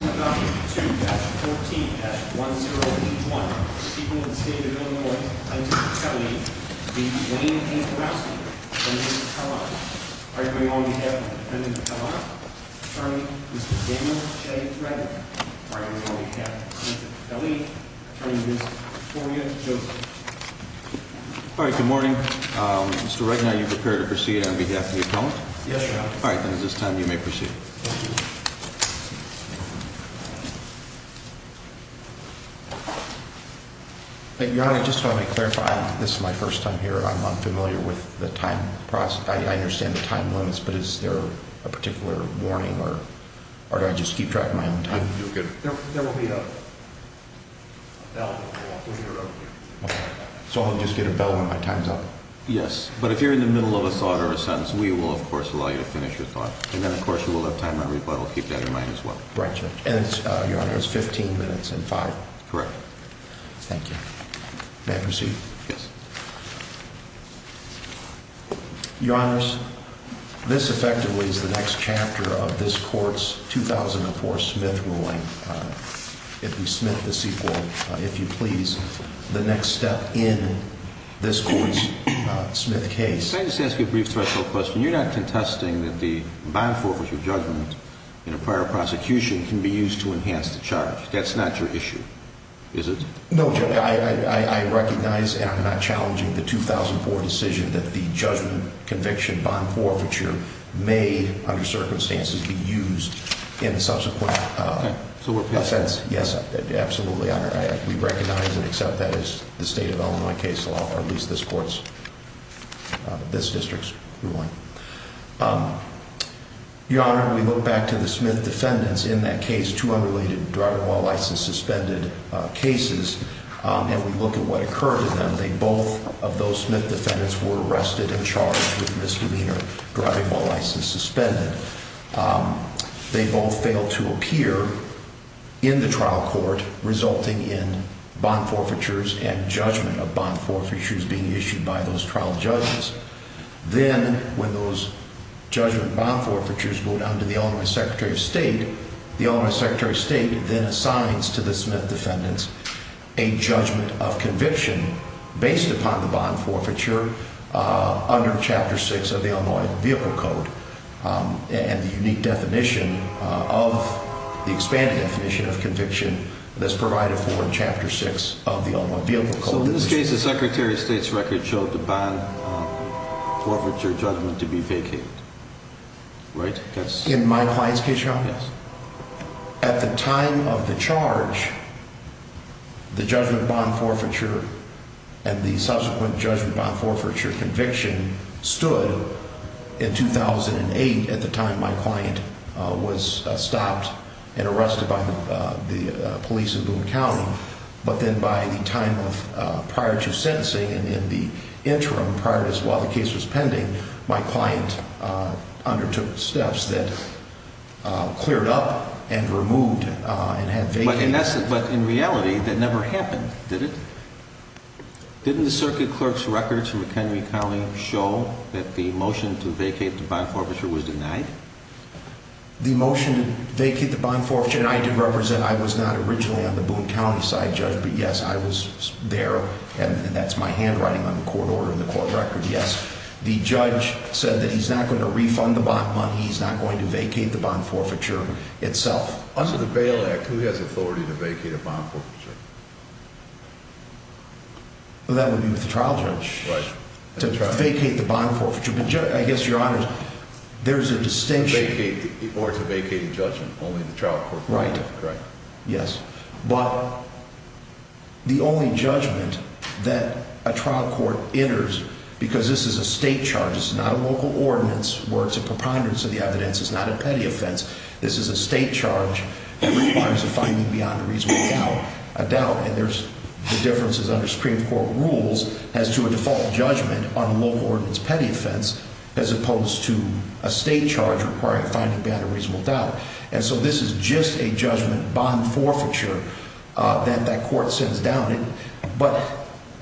W 2-14-1081 Sequel to the State of Illinois Attorney General Kelly v. Dwayne A. Borowski v. Mr. Kellogg Attorney General on behalf of the defendant Kellogg, Attorney Mr. Daniel J. Regner Attorney General on behalf of the defendant Kelly, Attorney Mr. Victoria Joseph Alright, good morning. Mr. Regner, are you prepared to proceed on behalf of the appellant? Yes, Your Honor. Alright, then at this time you may proceed. Thank you. Thank you. Your Honor, just to clarify, this is my first time here and I'm unfamiliar with the time process. I understand the time limits, but is there a particular warning or do I just keep track of my own time? No, you're good. There will be a bell when you're over here. So I'll just get a bell when my time's up? Yes, but if you're in the middle of a thought or a sentence, we will, of course, allow you to finish your thought. And then, of course, you will have time on rebuttal. Keep that in mind as well. Right. And, Your Honor, it's 15 minutes and 5? Correct. Thank you. May I proceed? Yes. Your Honor, this effectively is the next chapter of this Court's 2004 Smith ruling. It will be Smith v. Sequel, if you please, the next step in this Court's Smith case. May I just ask you a brief threshold question? You're not contesting that the bond forfeiture judgment in a prior prosecution can be used to enhance the charge. That's not your issue, is it? No, Judge, I recognize and I'm not challenging the 2004 decision that the judgment conviction bond forfeiture may, under circumstances, be used in subsequent offense. Yes, absolutely, Your Honor. We recognize and accept that as the state of Illinois case law, or at least this District's ruling. Your Honor, we look back to the Smith defendants in that case, two unrelated driving while license suspended cases, and we look at what occurred to them. Both of those Smith defendants were arrested and charged with misdemeanor driving while license suspended. They both failed to appear in the trial court, resulting in bond forfeitures and judgment of bond forfeitures being issued by those trial judges. Then, when those judgment bond forfeitures go down to the Illinois Secretary of State, the Illinois Secretary of State then assigns to the Smith defendants a judgment of conviction based upon the bond forfeiture under Chapter 6 of the Illinois Vehicle Code. And the unique definition of the expanded definition of conviction that's provided for in Chapter 6 of the Illinois Vehicle Code. So, in this case, the Secretary of State's record showed the bond forfeiture judgment to be vacated, right? In my client's case, Your Honor? Yes. At the time of the charge, the judgment bond forfeiture and the subsequent judgment bond forfeiture conviction stood in 2008 at the time my client was stopped and arrested by the police in Boone County. But then by the time of prior to sentencing and in the interim prior to this while the case was pending, my client undertook steps that cleared up and removed and had vacated. But in reality, that never happened, did it? Didn't the circuit clerk's records from McHenry County show that the motion to vacate the bond forfeiture was denied? The motion to vacate the bond forfeiture, and I did represent, I was not originally on the Boone County side, Judge, but yes, I was there, and that's my handwriting on the court order and the court record, yes. The judge said that he's not going to refund the bond money, he's not going to vacate the bond forfeiture itself. Under the Bail Act, who has authority to vacate a bond forfeiture? Well, that would be with the trial judge. Right. To vacate the bond forfeiture, but I guess, Your Honor, there's a distinction. Or to vacate the judgment, only the trial court can do that. Right, yes. But the only judgment that a trial court enters, because this is a state charge, it's not a local ordinance where it's a preponderance of the evidence, it's not a petty offense, this is a state charge that requires a finding beyond a reasonable doubt. And there's differences under Supreme Court rules as to a default judgment on a local ordinance petty offense as opposed to a state charge requiring a finding beyond a reasonable doubt. And so this is just a judgment bond forfeiture that that court sends down. But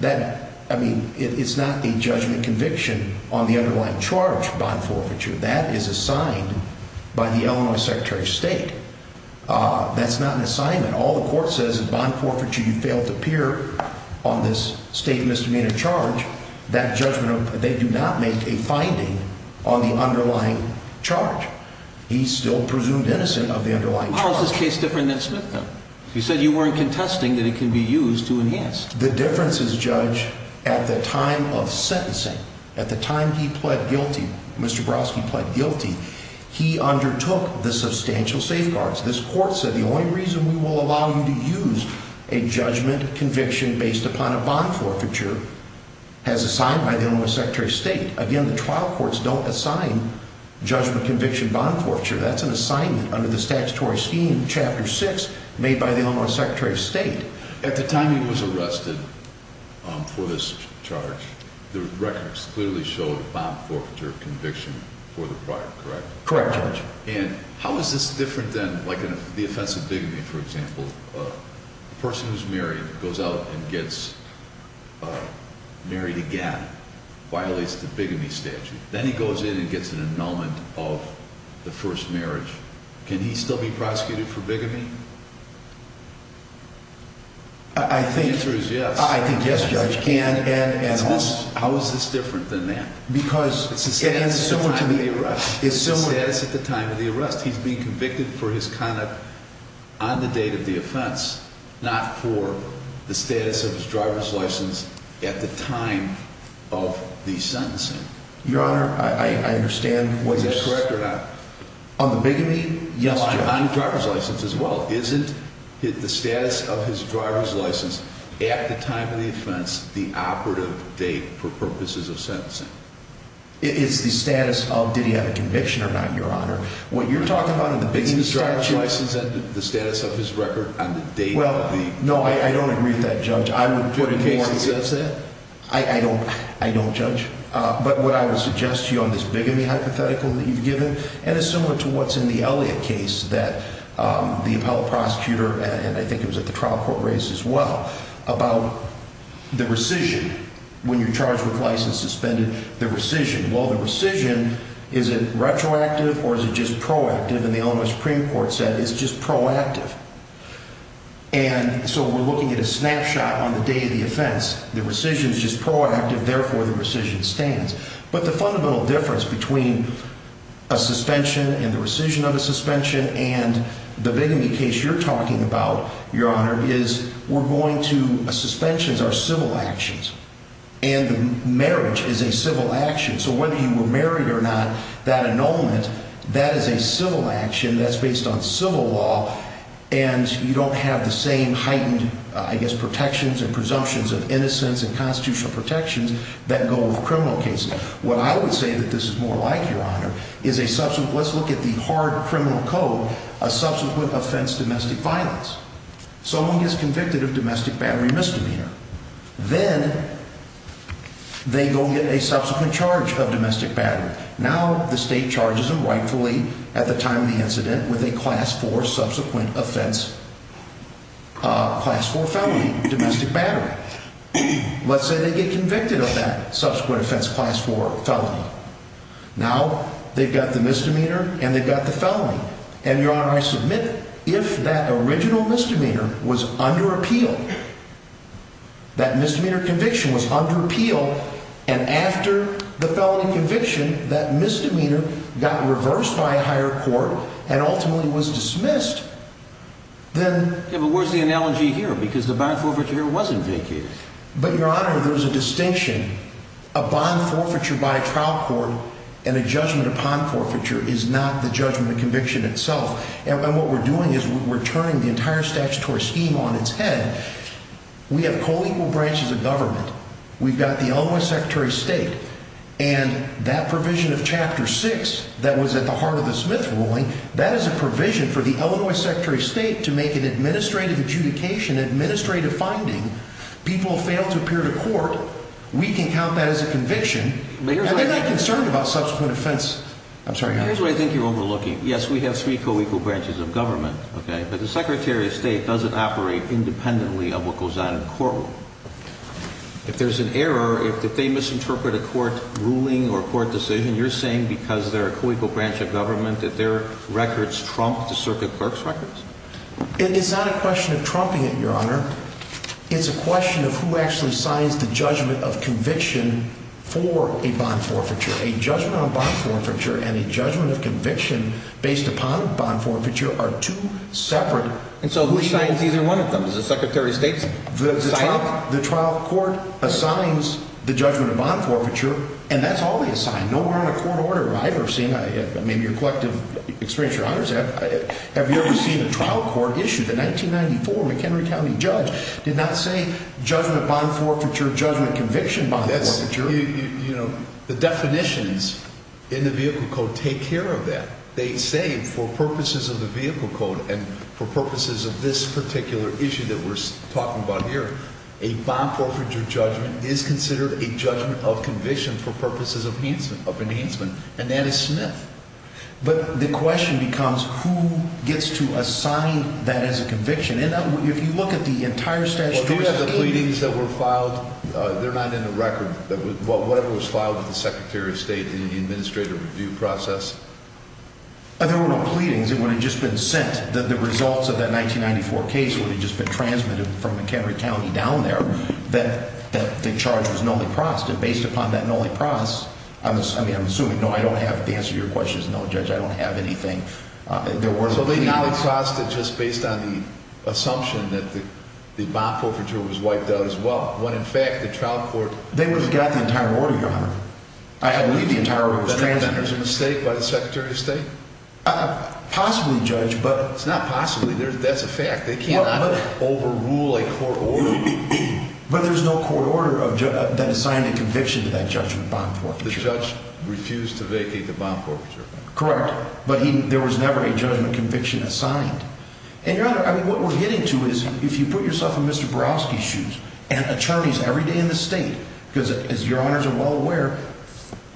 that, I mean, it's not a judgment conviction on the underlying charge bond forfeiture. That is assigned by the Illinois Secretary of State. That's not an assignment. All the court says is bond forfeiture, you failed to appear on this state misdemeanor charge. That judgment, they do not make a finding on the underlying charge. He's still presumed innocent of the underlying charge. How is this case different than Smith v. He said you weren't contesting that it can be used to enhance. The difference is, Judge, at the time of sentencing, at the time he pled guilty, Mr. Brodsky pled guilty, he undertook the substantial safeguards. This court said the only reason we will allow you to use a judgment conviction based upon a bond forfeiture has assigned by the Illinois Secretary of State. Again, the trial courts don't assign judgment conviction bond forfeiture. That's an assignment under the statutory scheme, Chapter 6, made by the Illinois Secretary of State. At the time he was arrested for this charge, the records clearly showed bond forfeiture conviction for the prior, correct? Correct, Judge. And how is this different than, like, the offense of bigamy, for example? A person who's married goes out and gets married again, violates the bigamy statute. Then he goes in and gets an annulment of the first marriage. Can he still be prosecuted for bigamy? The answer is yes. I think yes, Judge, he can. How is this different than that? Because it's similar to the arrest. It's the status at the time of the arrest. He's being convicted for his conduct on the date of the offense, not for the status of his driver's license at the time of the sentencing. Your Honor, I understand what you're saying. Is that correct or not? On the bigamy? Yes, Judge. Isn't the status of his driver's license at the time of the offense the operative date for purposes of sentencing? It's the status of did he have a conviction or not, Your Honor. What you're talking about in the bigamy statute... Isn't the driver's license the status of his record on the date of the... Well, no, I don't agree with that, Judge. I would put it more... Do the cases exist then? I don't judge. But what I would suggest to you on this bigamy hypothetical that you've given, and it's similar to what's in the Elliott case that the appellate prosecutor, and I think it was at the trial court race as well, about the rescission. When you're charged with license suspended, the rescission. Well, the rescission, is it retroactive or is it just proactive? And the Illinois Supreme Court said it's just proactive. And so we're looking at a snapshot on the day of the offense. The rescission is just proactive. Therefore, the rescission stands. But the fundamental difference between a suspension and the rescission of a suspension and the bigamy case you're talking about, Your Honor, is we're going to... Suspensions are civil actions. And marriage is a civil action. So whether you were married or not, that annulment, that is a civil action. That's based on civil law. And you don't have the same heightened, I guess, protections and presumptions of innocence and constitutional protections that go with criminal cases. What I would say that this is more like, Your Honor, is a subsequent... Let's look at the hard criminal code, a subsequent offense, domestic violence. Someone gets convicted of domestic battery misdemeanor. Then they go get a subsequent charge of domestic battery. Now the state charges them rightfully at the time of the incident with a class 4 subsequent offense, class 4 felony, domestic battery. Let's say they get convicted of that subsequent offense, class 4 felony. Now they've got the misdemeanor and they've got the felony. And, Your Honor, I submit if that original misdemeanor was under appeal, that misdemeanor conviction was under appeal, and after the felony conviction, that misdemeanor got reversed by a higher court and ultimately was dismissed, then... Yeah, but where's the analogy here? Because the bond forfeiture here wasn't vacated. But, Your Honor, there's a distinction. A bond forfeiture by a trial court and a judgment upon forfeiture is not the judgment of conviction itself. And what we're doing is we're turning the entire statutory scheme on its head. We have co-equal branches of government. We've got the Illinois Secretary of State. And that provision of Chapter 6 that was at the heart of the Smith ruling, that is a provision for the Illinois Secretary of State to make an administrative adjudication, administrative finding. People fail to appear to court. We can count that as a conviction. And they're not concerned about subsequent offense. I'm sorry, Your Honor. Here's what I think you're overlooking. Yes, we have three co-equal branches of government, okay? But the Secretary of State doesn't operate independently of what goes on in court. If there's an error, if they misinterpret a court ruling or a court decision, you're saying because they're a co-equal branch of government that their records trump the circuit clerk's records? It is not a question of trumping it, Your Honor. It's a question of who actually signs the judgment of conviction for a bond forfeiture. A judgment on bond forfeiture and a judgment of conviction based upon bond forfeiture are two separate— And so who signs either one of them? Does the Secretary of State sign it? The trial court assigns the judgment of bond forfeiture, and that's always assigned. Nowhere on a court order have I ever seen—I mean, in your collective experience, Your Honor, have you ever seen a trial court issue? The 1994 McHenry County judge did not say judgment bond forfeiture, judgment conviction bond forfeiture. You know, the definitions in the vehicle code take care of that. They say for purposes of the vehicle code and for purposes of this particular issue that we're talking about here, a bond forfeiture judgment is considered a judgment of conviction for purposes of enhancement, of enhancement, and that is Smith. But the question becomes who gets to assign that as a conviction. And if you look at the entire statute— There were no pleadings. It would have just been sent. The results of that 1994 case would have just been transmitted from McHenry County down there that the charge was nulliprost. And based upon that nulliprost—I mean, I'm assuming—no, I don't have—the answer to your question is no, Judge, I don't have anything. So they nulliprost it just based on the assumption that the bond forfeiture was wiped out as well, when in fact the trial court— They would have got the entire order, Your Honor. I believe the entire order was transmitted. Was there a mistake by the Secretary of State? Possibly, Judge, but— It's not possibly. That's a fact. They cannot overrule a court order. But there's no court order that assigned a conviction to that judgment bond forfeiture. The judge refused to vacate the bond forfeiture. Correct. But there was never a judgment conviction assigned. And, Your Honor, I mean, what we're getting to is, if you put yourself in Mr. Borowski's shoes, and attorneys every day in this state— because, as Your Honors are well aware,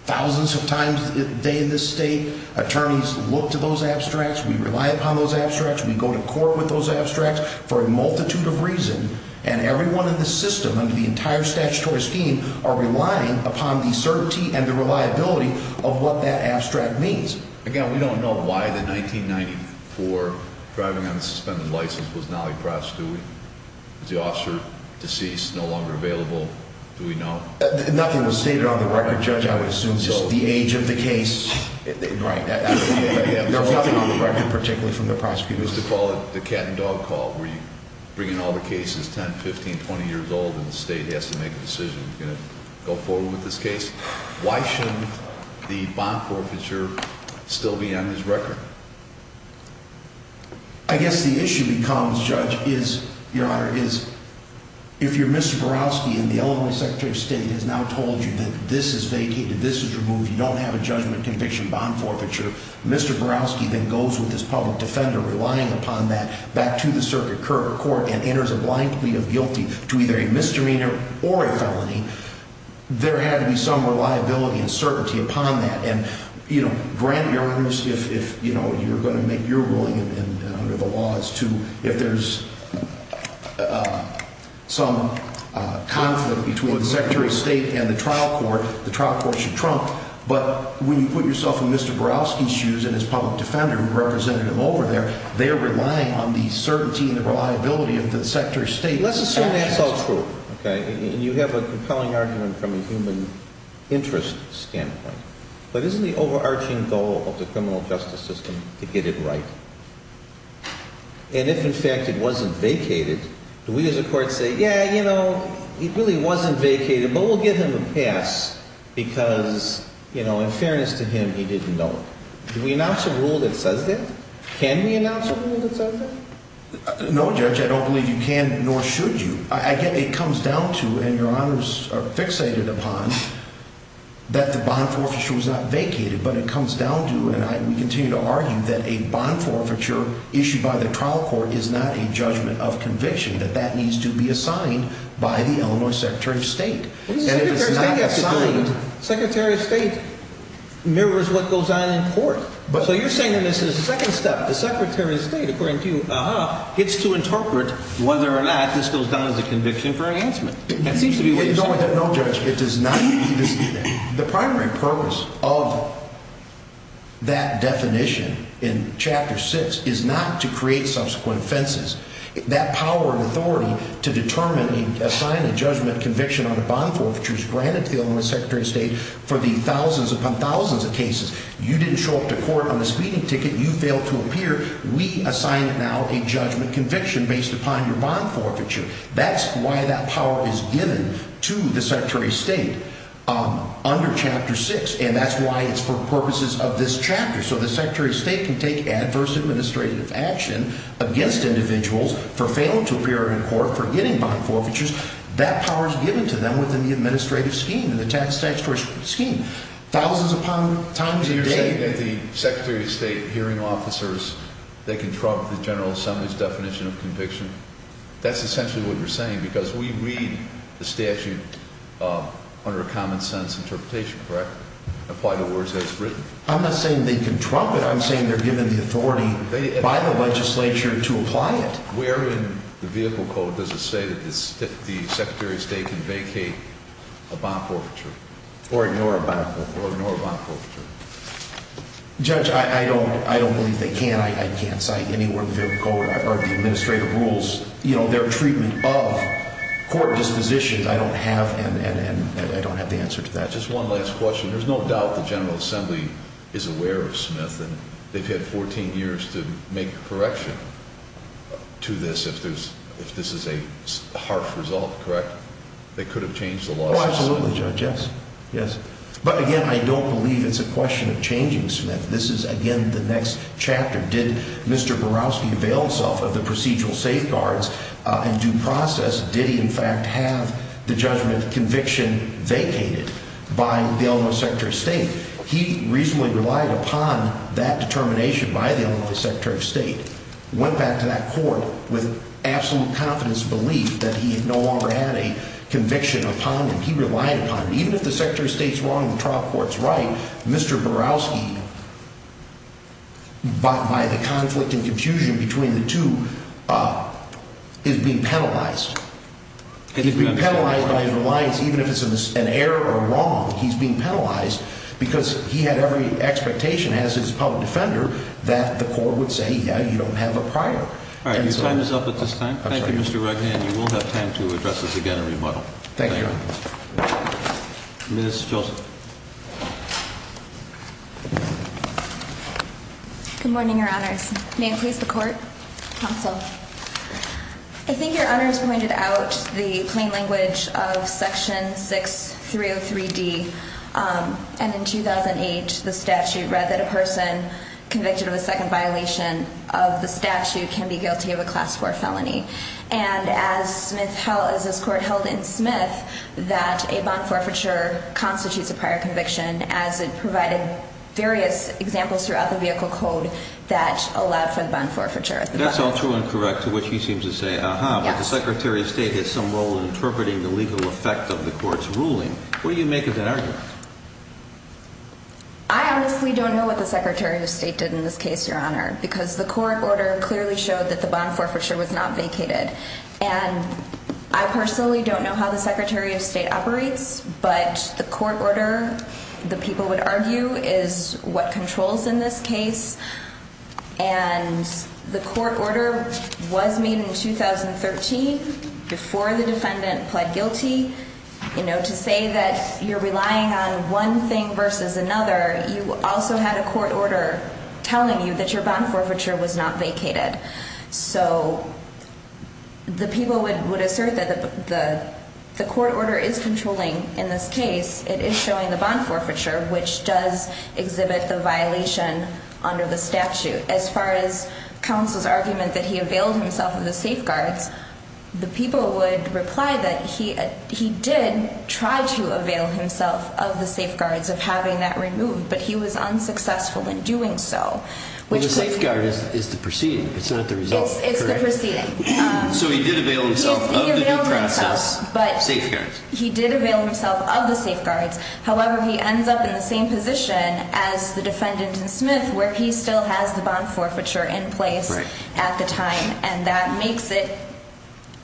thousands of times a day in this state, attorneys look to those abstracts, we rely upon those abstracts, we go to court with those abstracts for a multitude of reasons, and everyone in this system, under the entire statutory scheme, are relying upon the certainty and the reliability of what that abstract means. Again, we don't know why the 1994 driving on a suspended license was not a prostitute. Is the officer deceased, no longer available? Do we know? Nothing was stated on the record, Judge. I would assume just the age of the case. Right. There was nothing on the record, particularly from the prosecutors. You used to call it the cat and dog call, where you bring in all the cases, 10, 15, 20 years old, and the state has to make a decision, go forward with this case. Why shouldn't the bond forfeiture still be on this record? I guess the issue becomes, Judge, is, Your Honor, is, if you're Mr. Borowski and the Illinois Secretary of State has now told you that this is vacated, this is removed, you don't have a judgment conviction bond forfeiture, Mr. Borowski then goes with his public defender, relying upon that, back to the circuit court and enters a blank plea of guilty to either a misdemeanor or a felony, there had to be some reliability and certainty upon that. And, you know, granted, Your Honor, if, you know, you're going to make your ruling under the laws to, if there's some conflict between the Secretary of State and the trial court, the trial court should trump, but when you put yourself in Mr. Borowski's shoes and his public defender who represented him over there, they're relying on the certainty and the reliability of the Secretary of State. Let's assume that's all true, okay, and you have a compelling argument from a human interest standpoint. But isn't the overarching goal of the criminal justice system to get it right? And if, in fact, it wasn't vacated, do we as a court say, yeah, you know, it really wasn't vacated, but we'll give him a pass because, you know, in fairness to him, he didn't know it. Do we announce a rule that says that? Can we announce a rule that says that? No, Judge, I don't believe you can, nor should you. I get it comes down to, and Your Honors are fixated upon, that the bond forfeiture was not vacated. But it comes down to, and I continue to argue that a bond forfeiture issued by the trial court is not a judgment of conviction, that that needs to be assigned by the Illinois Secretary of State. Secretary of State mirrors what goes on in court. So you're saying that this is the second step. The Secretary of State, according to you, gets to interpret whether or not this goes down as a conviction for enhancement. That seems to be what you're saying. No, Judge, it does not. The primary purpose of that definition in Chapter 6 is not to create subsequent offenses. That power and authority to determine and assign a judgment conviction on a bond forfeiture is granted to the Illinois Secretary of State for the thousands upon thousands of cases. You didn't show up to court on a speeding ticket. You failed to appear. We assign it now a judgment conviction based upon your bond forfeiture. That's why that power is given to the Secretary of State under Chapter 6. And that's why it's for purposes of this chapter. So the Secretary of State can take adverse administrative action against individuals for failing to appear in court for getting bond forfeitures. That power is given to them within the administrative scheme, in the statutory scheme. Thousands upon thousands of days. So you're saying that the Secretary of State hearing officers, they can trump the General Assembly's definition of conviction? That's essentially what you're saying because we read the statute under a common sense interpretation, correct? Apply the words that it's written? I'm not saying they can trump it. I'm saying they're given the authority by the legislature to apply it. Where in the vehicle code does it say that the Secretary of State can vacate a bond forfeiture? Or ignore a bond forfeiture. Or ignore a bond forfeiture. Judge, I don't believe they can. I can't cite any word of the administrative rules. Their treatment of court dispositions, I don't have. And I don't have the answer to that. Just one last question. There's no doubt the General Assembly is aware of Smith. And they've had 14 years to make a correction to this if this is a harsh result, correct? They could have changed the law. Oh, absolutely, Judge. Yes. But, again, I don't believe it's a question of changing Smith. This is, again, the next chapter. Did Mr. Borowski avail himself of the procedural safeguards in due process? Did he, in fact, have the judgment conviction vacated by the Eleanor Secretary of State? He reasonably relied upon that determination by the Eleanor Secretary of State. Went back to that court with absolute confidence and belief that he no longer had a conviction upon him. He relied upon it. Even if the Secretary of State is wrong and the trial court is right, Mr. Borowski, by the conflict and confusion between the two, is being penalized. He's being penalized by his reliance, even if it's an error or wrong, he's being penalized because he had every expectation as his public defender that the court would say, yeah, you don't have a prior. All right. Your time is up at this time. Thank you, Mr. Regan. And you will have time to address us again in rebuttal. Thank you. Thank you. Ms. Filson. Good morning, Your Honors. May I please have the court counsel? I think Your Honors pointed out the plain language of Section 6303D. And in 2008, the statute read that a person convicted of a second violation of the statute can be guilty of a class 4 felony. And as this court held in Smith that a bond forfeiture constitutes a prior conviction as it provided various examples throughout the vehicle code that allowed for the bond forfeiture. That's all true and correct to what she seems to say. But the Secretary of State has some role in interpreting the legal effect of the court's ruling. What do you make of that argument? I honestly don't know what the Secretary of State did in this case, Your Honor, because the court order clearly showed that the bond forfeiture was not vacated. And I personally don't know how the Secretary of State operates, but the court order, the people would argue, is what controls in this case. And the court order was made in 2013 before the defendant pled guilty. You know, to say that you're relying on one thing versus another, you also had a court order telling you that your bond forfeiture was not vacated. So the people would assert that the court order is controlling in this case. It is showing the bond forfeiture, which does exhibit the violation under the statute. As far as counsel's argument that he availed himself of the safeguards, the people would reply that he did try to avail himself of the safeguards of having that removed, but he was unsuccessful in doing so. The safeguard is the proceeding. It's not the result, correct? It's the proceeding. So he did avail himself of the due process safeguards. He did avail himself of the safeguards. However, he ends up in the same position as the defendant in Smith where he still has the bond forfeiture in place at the time, and that makes it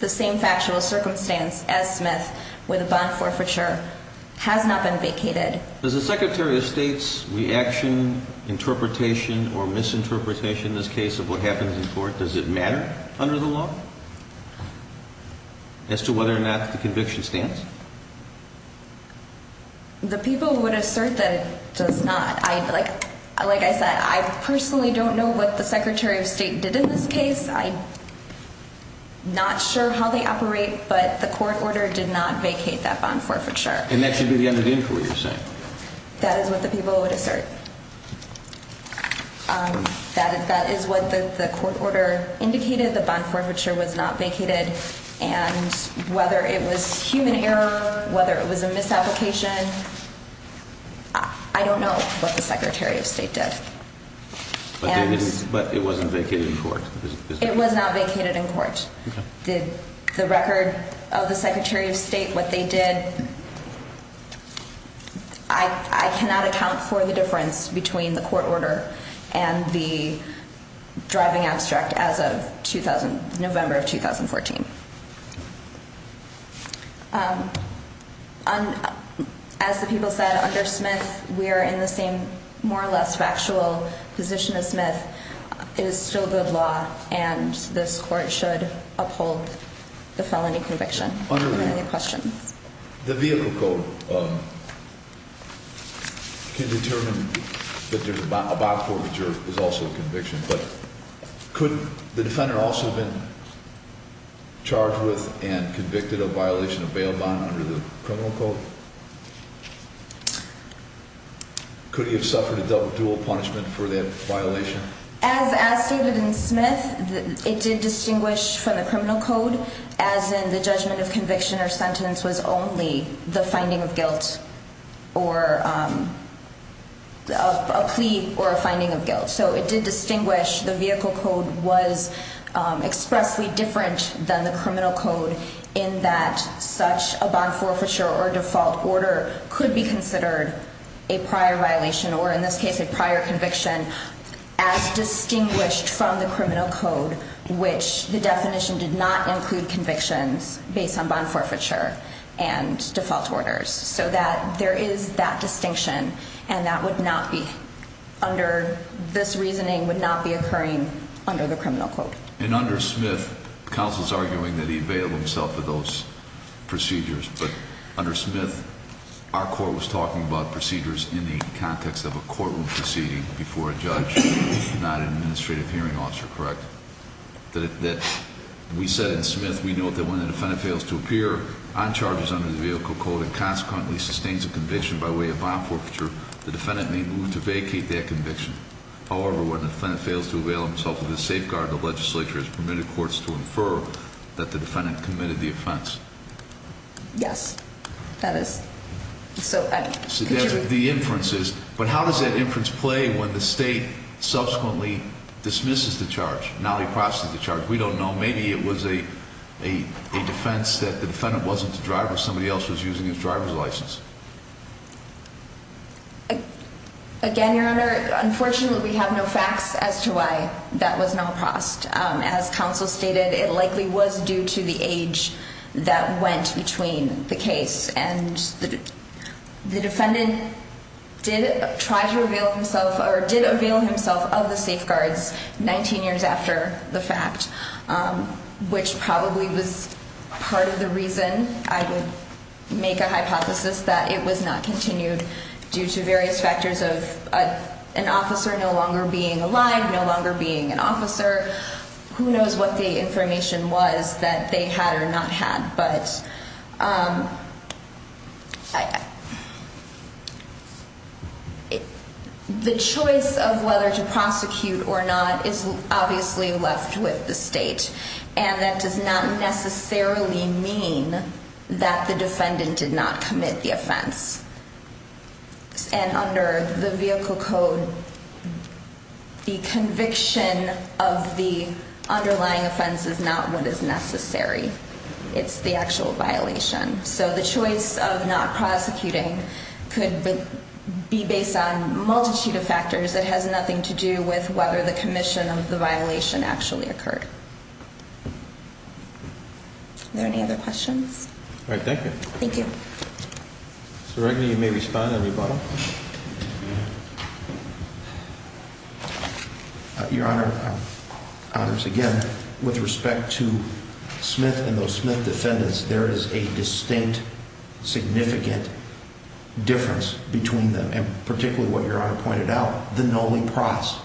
the same factual circumstance as Smith where the bond forfeiture has not been vacated. Does the Secretary of State's reaction, interpretation, or misinterpretation in this case of what happens in court, does it matter under the law as to whether or not the conviction stands? The people would assert that it does not. Like I said, I personally don't know what the Secretary of State did in this case. I'm not sure how they operate, but the court order did not vacate that bond forfeiture. And that should be the end of the inquiry, you're saying? That is what the people would assert. That is what the court order indicated, the bond forfeiture was not vacated. And whether it was human error, whether it was a misapplication, I don't know what the Secretary of State did. But it wasn't vacated in court? It was not vacated in court. Did the record of the Secretary of State, what they did, I cannot account for the difference between the court order and the driving abstract as of November of 2014. As the people said, under Smith, we are in the same more or less factual position as Smith. It is still good law, and this court should uphold the felony conviction. Do you have any other questions? The vehicle code can determine that a bond forfeiture is also a conviction. But could the defendant also have been charged with and convicted of violation of bail bond under the criminal code? Could he have suffered a dual punishment for that violation? As stated in Smith, it did distinguish from the criminal code, as in the judgment of conviction or sentence was only the finding of guilt or a plea or a finding of guilt. So it did distinguish the vehicle code was expressly different than the criminal code in that such a bond forfeiture or default order could be considered a prior violation or in this case a prior conviction as distinguished from the criminal code, which the definition did not include convictions based on bond forfeiture and default orders. So that there is that distinction, and that would not be under this reasoning, would not be occurring under the criminal code. And under Smith, counsel is arguing that he bailed himself for those procedures. But under Smith, our court was talking about procedures in the context of a courtroom proceeding before a judge, not an administrative hearing officer, correct? That we said in Smith we know that when the defendant fails to appear on charges under the vehicle code and consequently sustains a conviction by way of bond forfeiture, the defendant may move to vacate that conviction. However, when the defendant fails to avail himself of the safeguard, the legislature has permitted courts to infer that the defendant committed the offense. Yes, that is. So the inference is, but how does that inference play when the state subsequently dismisses the charge? Now they process the charge. We don't know. Maybe it was a defense that the defendant wasn't the driver. Somebody else was using his driver's license. Again, Your Honor, unfortunately we have no facts as to why that was not processed. As counsel stated, it likely was due to the age that went between the case. And the defendant did try to avail himself or did avail himself of the safeguards 19 years after the fact, which probably was part of the reason I would make a hypothesis that it was not continued due to various factors of an officer no longer being alive, no longer being an officer. Who knows what the information was that they had or not had. But the choice of whether to prosecute or not is obviously left with the state. And that does not necessarily mean that the defendant did not commit the offense. And under the vehicle code, the conviction of the underlying offense is not what is necessary. It's the actual violation. So the choice of not prosecuting could be based on a multitude of factors. It has nothing to do with whether the commission of the violation actually occurred. Are there any other questions? All right. Thank you. Thank you. Mr. Regan, you may respond on your bottom. Your Honor. Again, with respect to Smith and those Smith defendants, there is a distinct, significant difference between them. And particularly what your honor pointed out. The Noli process.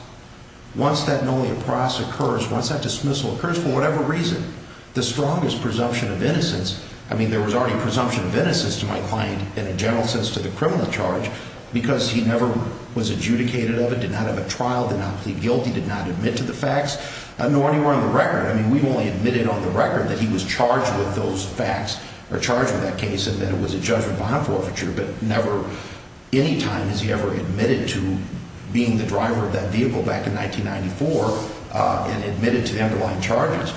Once that Noli process occurs, once that dismissal occurs, for whatever reason, the strongest presumption of innocence. I mean, there was already presumption of innocence to my client in a general sense to the criminal charge. Because he never was adjudicated of it, did not have a trial, did not plead guilty, did not admit to the facts, nor anywhere on the record. I mean, we've only admitted on the record that he was charged with those facts or charged with that case and that it was a judgment bond forfeiture. But never any time has he ever admitted to being the driver of that vehicle back in 1994 and admitted to the underlying charges.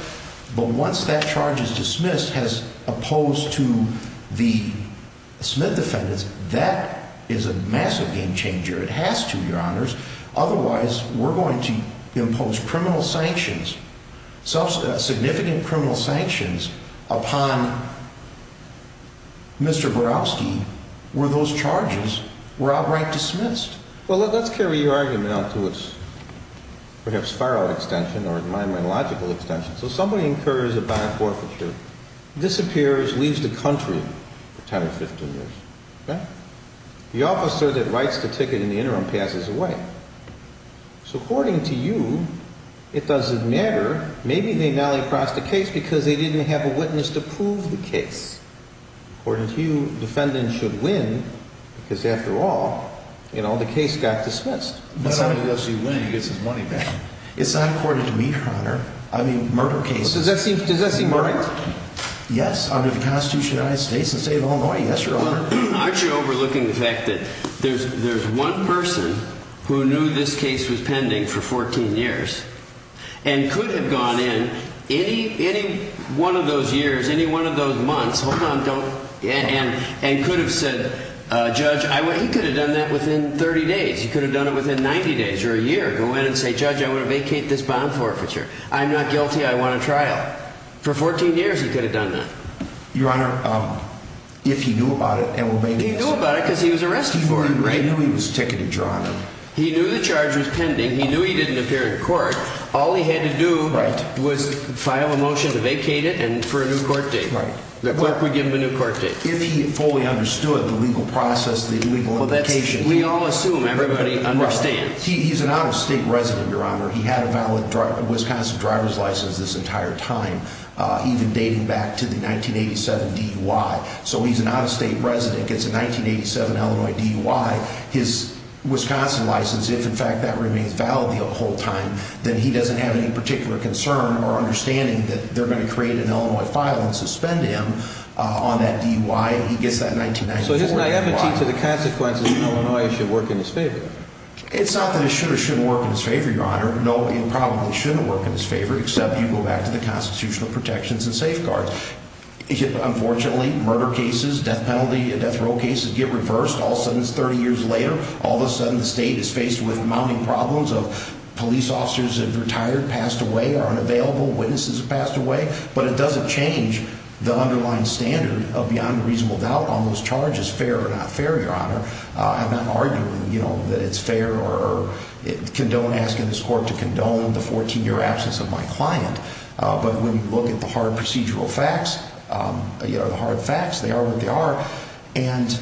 But once that charge is dismissed as opposed to the Smith defendants, that is a massive game changer. It has to, your honors. Otherwise, we're going to impose criminal sanctions, significant criminal sanctions upon Mr. Borowski where those charges were outright dismissed. Well, let's carry your argument out to its perhaps far out extension or my logical extension. So somebody incurs a bond forfeiture, disappears, leaves the country for 10 or 15 years. The officer that writes the ticket in the interim passes away. So according to you, it doesn't matter. Maybe they Noli processed the case because they didn't have a witness to prove the case. According to you, defendants should win because after all, you know, the case got dismissed. It's not according to me, your honor. I mean, murder cases. Does that seem right? Yes. Under the Constitution of the United States and the state of Illinois. Yes, your honor. Aren't you overlooking the fact that there's there's one person who knew this case was pending for 14 years and could have gone in any any one of those years, any one of those months. Hold on. Don't. And and could have said, judge, I went. He could have done that within 30 days. You could have done it within 90 days or a year. Go in and say, judge, I want to vacate this bond forfeiture. I'm not guilty. I want a trial for 14 years. He could have done that. Your honor. If he knew about it. And he knew about it because he was arrested. He knew he was ticketed, your honor. He knew the charge was pending. He knew he didn't appear in court. All he had to do was file a motion to vacate it. And for a new court date, the court would give him a new court date. If he fully understood the legal process, the legal indication. We all assume everybody understands. He's an out-of-state resident, your honor. He had a valid Wisconsin driver's license this entire time. Even dating back to the 1987 DUI. So he's an out-of-state resident. Gets a 1987 Illinois DUI. His Wisconsin license, if in fact that remains valid the whole time. Then he doesn't have any particular concern or understanding that they're going to create an Illinois file and suspend him on that DUI. He gets that 1994 DUI. So his naivety to the consequences in Illinois should work in his favor. It's not that it should or shouldn't work in his favor, your honor. No, it probably shouldn't work in his favor. Except you go back to the constitutional protections and safeguards. Unfortunately, murder cases, death penalty, death row cases get reversed. All of a sudden it's 30 years later. All of a sudden the state is faced with mounting problems of police officers have retired, passed away, are unavailable. Witnesses have passed away. But it doesn't change the underlying standard of beyond reasonable doubt on those charges. Fair or not fair, your honor. I'm not arguing, you know, that it's fair or condone asking this court to condone the 14-year absence of my client. But when you look at the hard procedural facts, you know, the hard facts, they are what they are. And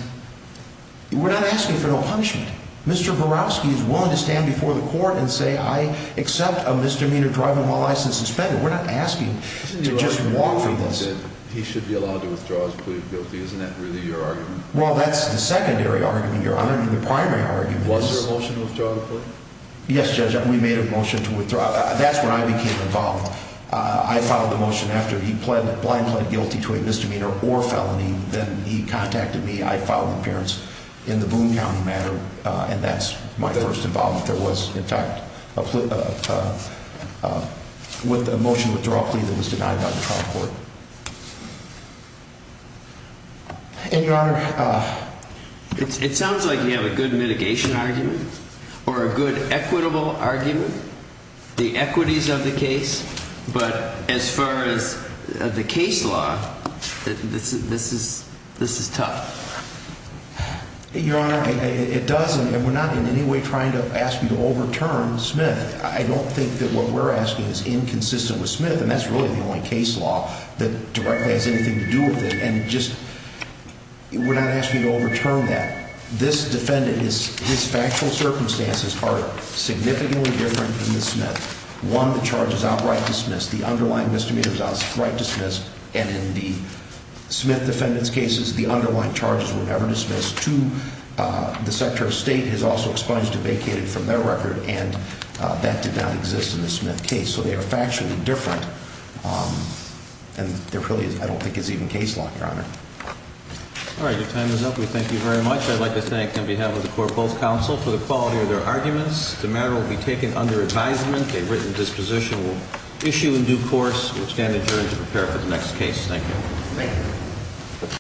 we're not asking for no punishment. Mr. Barofsky is willing to stand before the court and say I accept a misdemeanor driving while license is suspended. We're not asking to just walk from this. He should be allowed to withdraw his plea of guilty. Isn't that really your argument? Well, that's the secondary argument, your honor. I mean, the primary argument is. Was there a motion to withdraw the plea? Yes, Judge. We made a motion to withdraw. That's when I became involved. I filed the motion after he pled, blind pled guilty to a misdemeanor or felony. Then he contacted me. I filed an appearance in the Boone County matter. And that's my first involvement there was, in fact, with a motion to withdraw a plea that was denied by the trial court. And your honor, it sounds like you have a good mitigation argument or a good equitable argument. The equities of the case. But as far as the case law, this is this is tough. Your honor, it doesn't. And we're not in any way trying to ask you to overturn Smith. I don't think that what we're asking is inconsistent with Smith. And that's really the only case law. That directly has anything to do with it. And just we're not asking you to overturn that. This defendant is his factual circumstances are significantly different from the Smith. One, the charge is outright dismissed. The underlying misdemeanor is outright dismissed. And in the Smith defendant's cases, the underlying charges were never dismissed. Two, the secretary of state has also expunged a vacated from their record. And that did not exist in the Smith case. So they are factually different. And there really I don't think is even case law, your honor. All right, your time is up. We thank you very much. I'd like to thank on behalf of the court both counsel for the quality of their arguments. The matter will be taken under advisement. A written disposition will issue in due course. We stand adjourned to prepare for the next case. Thank you. Thank you.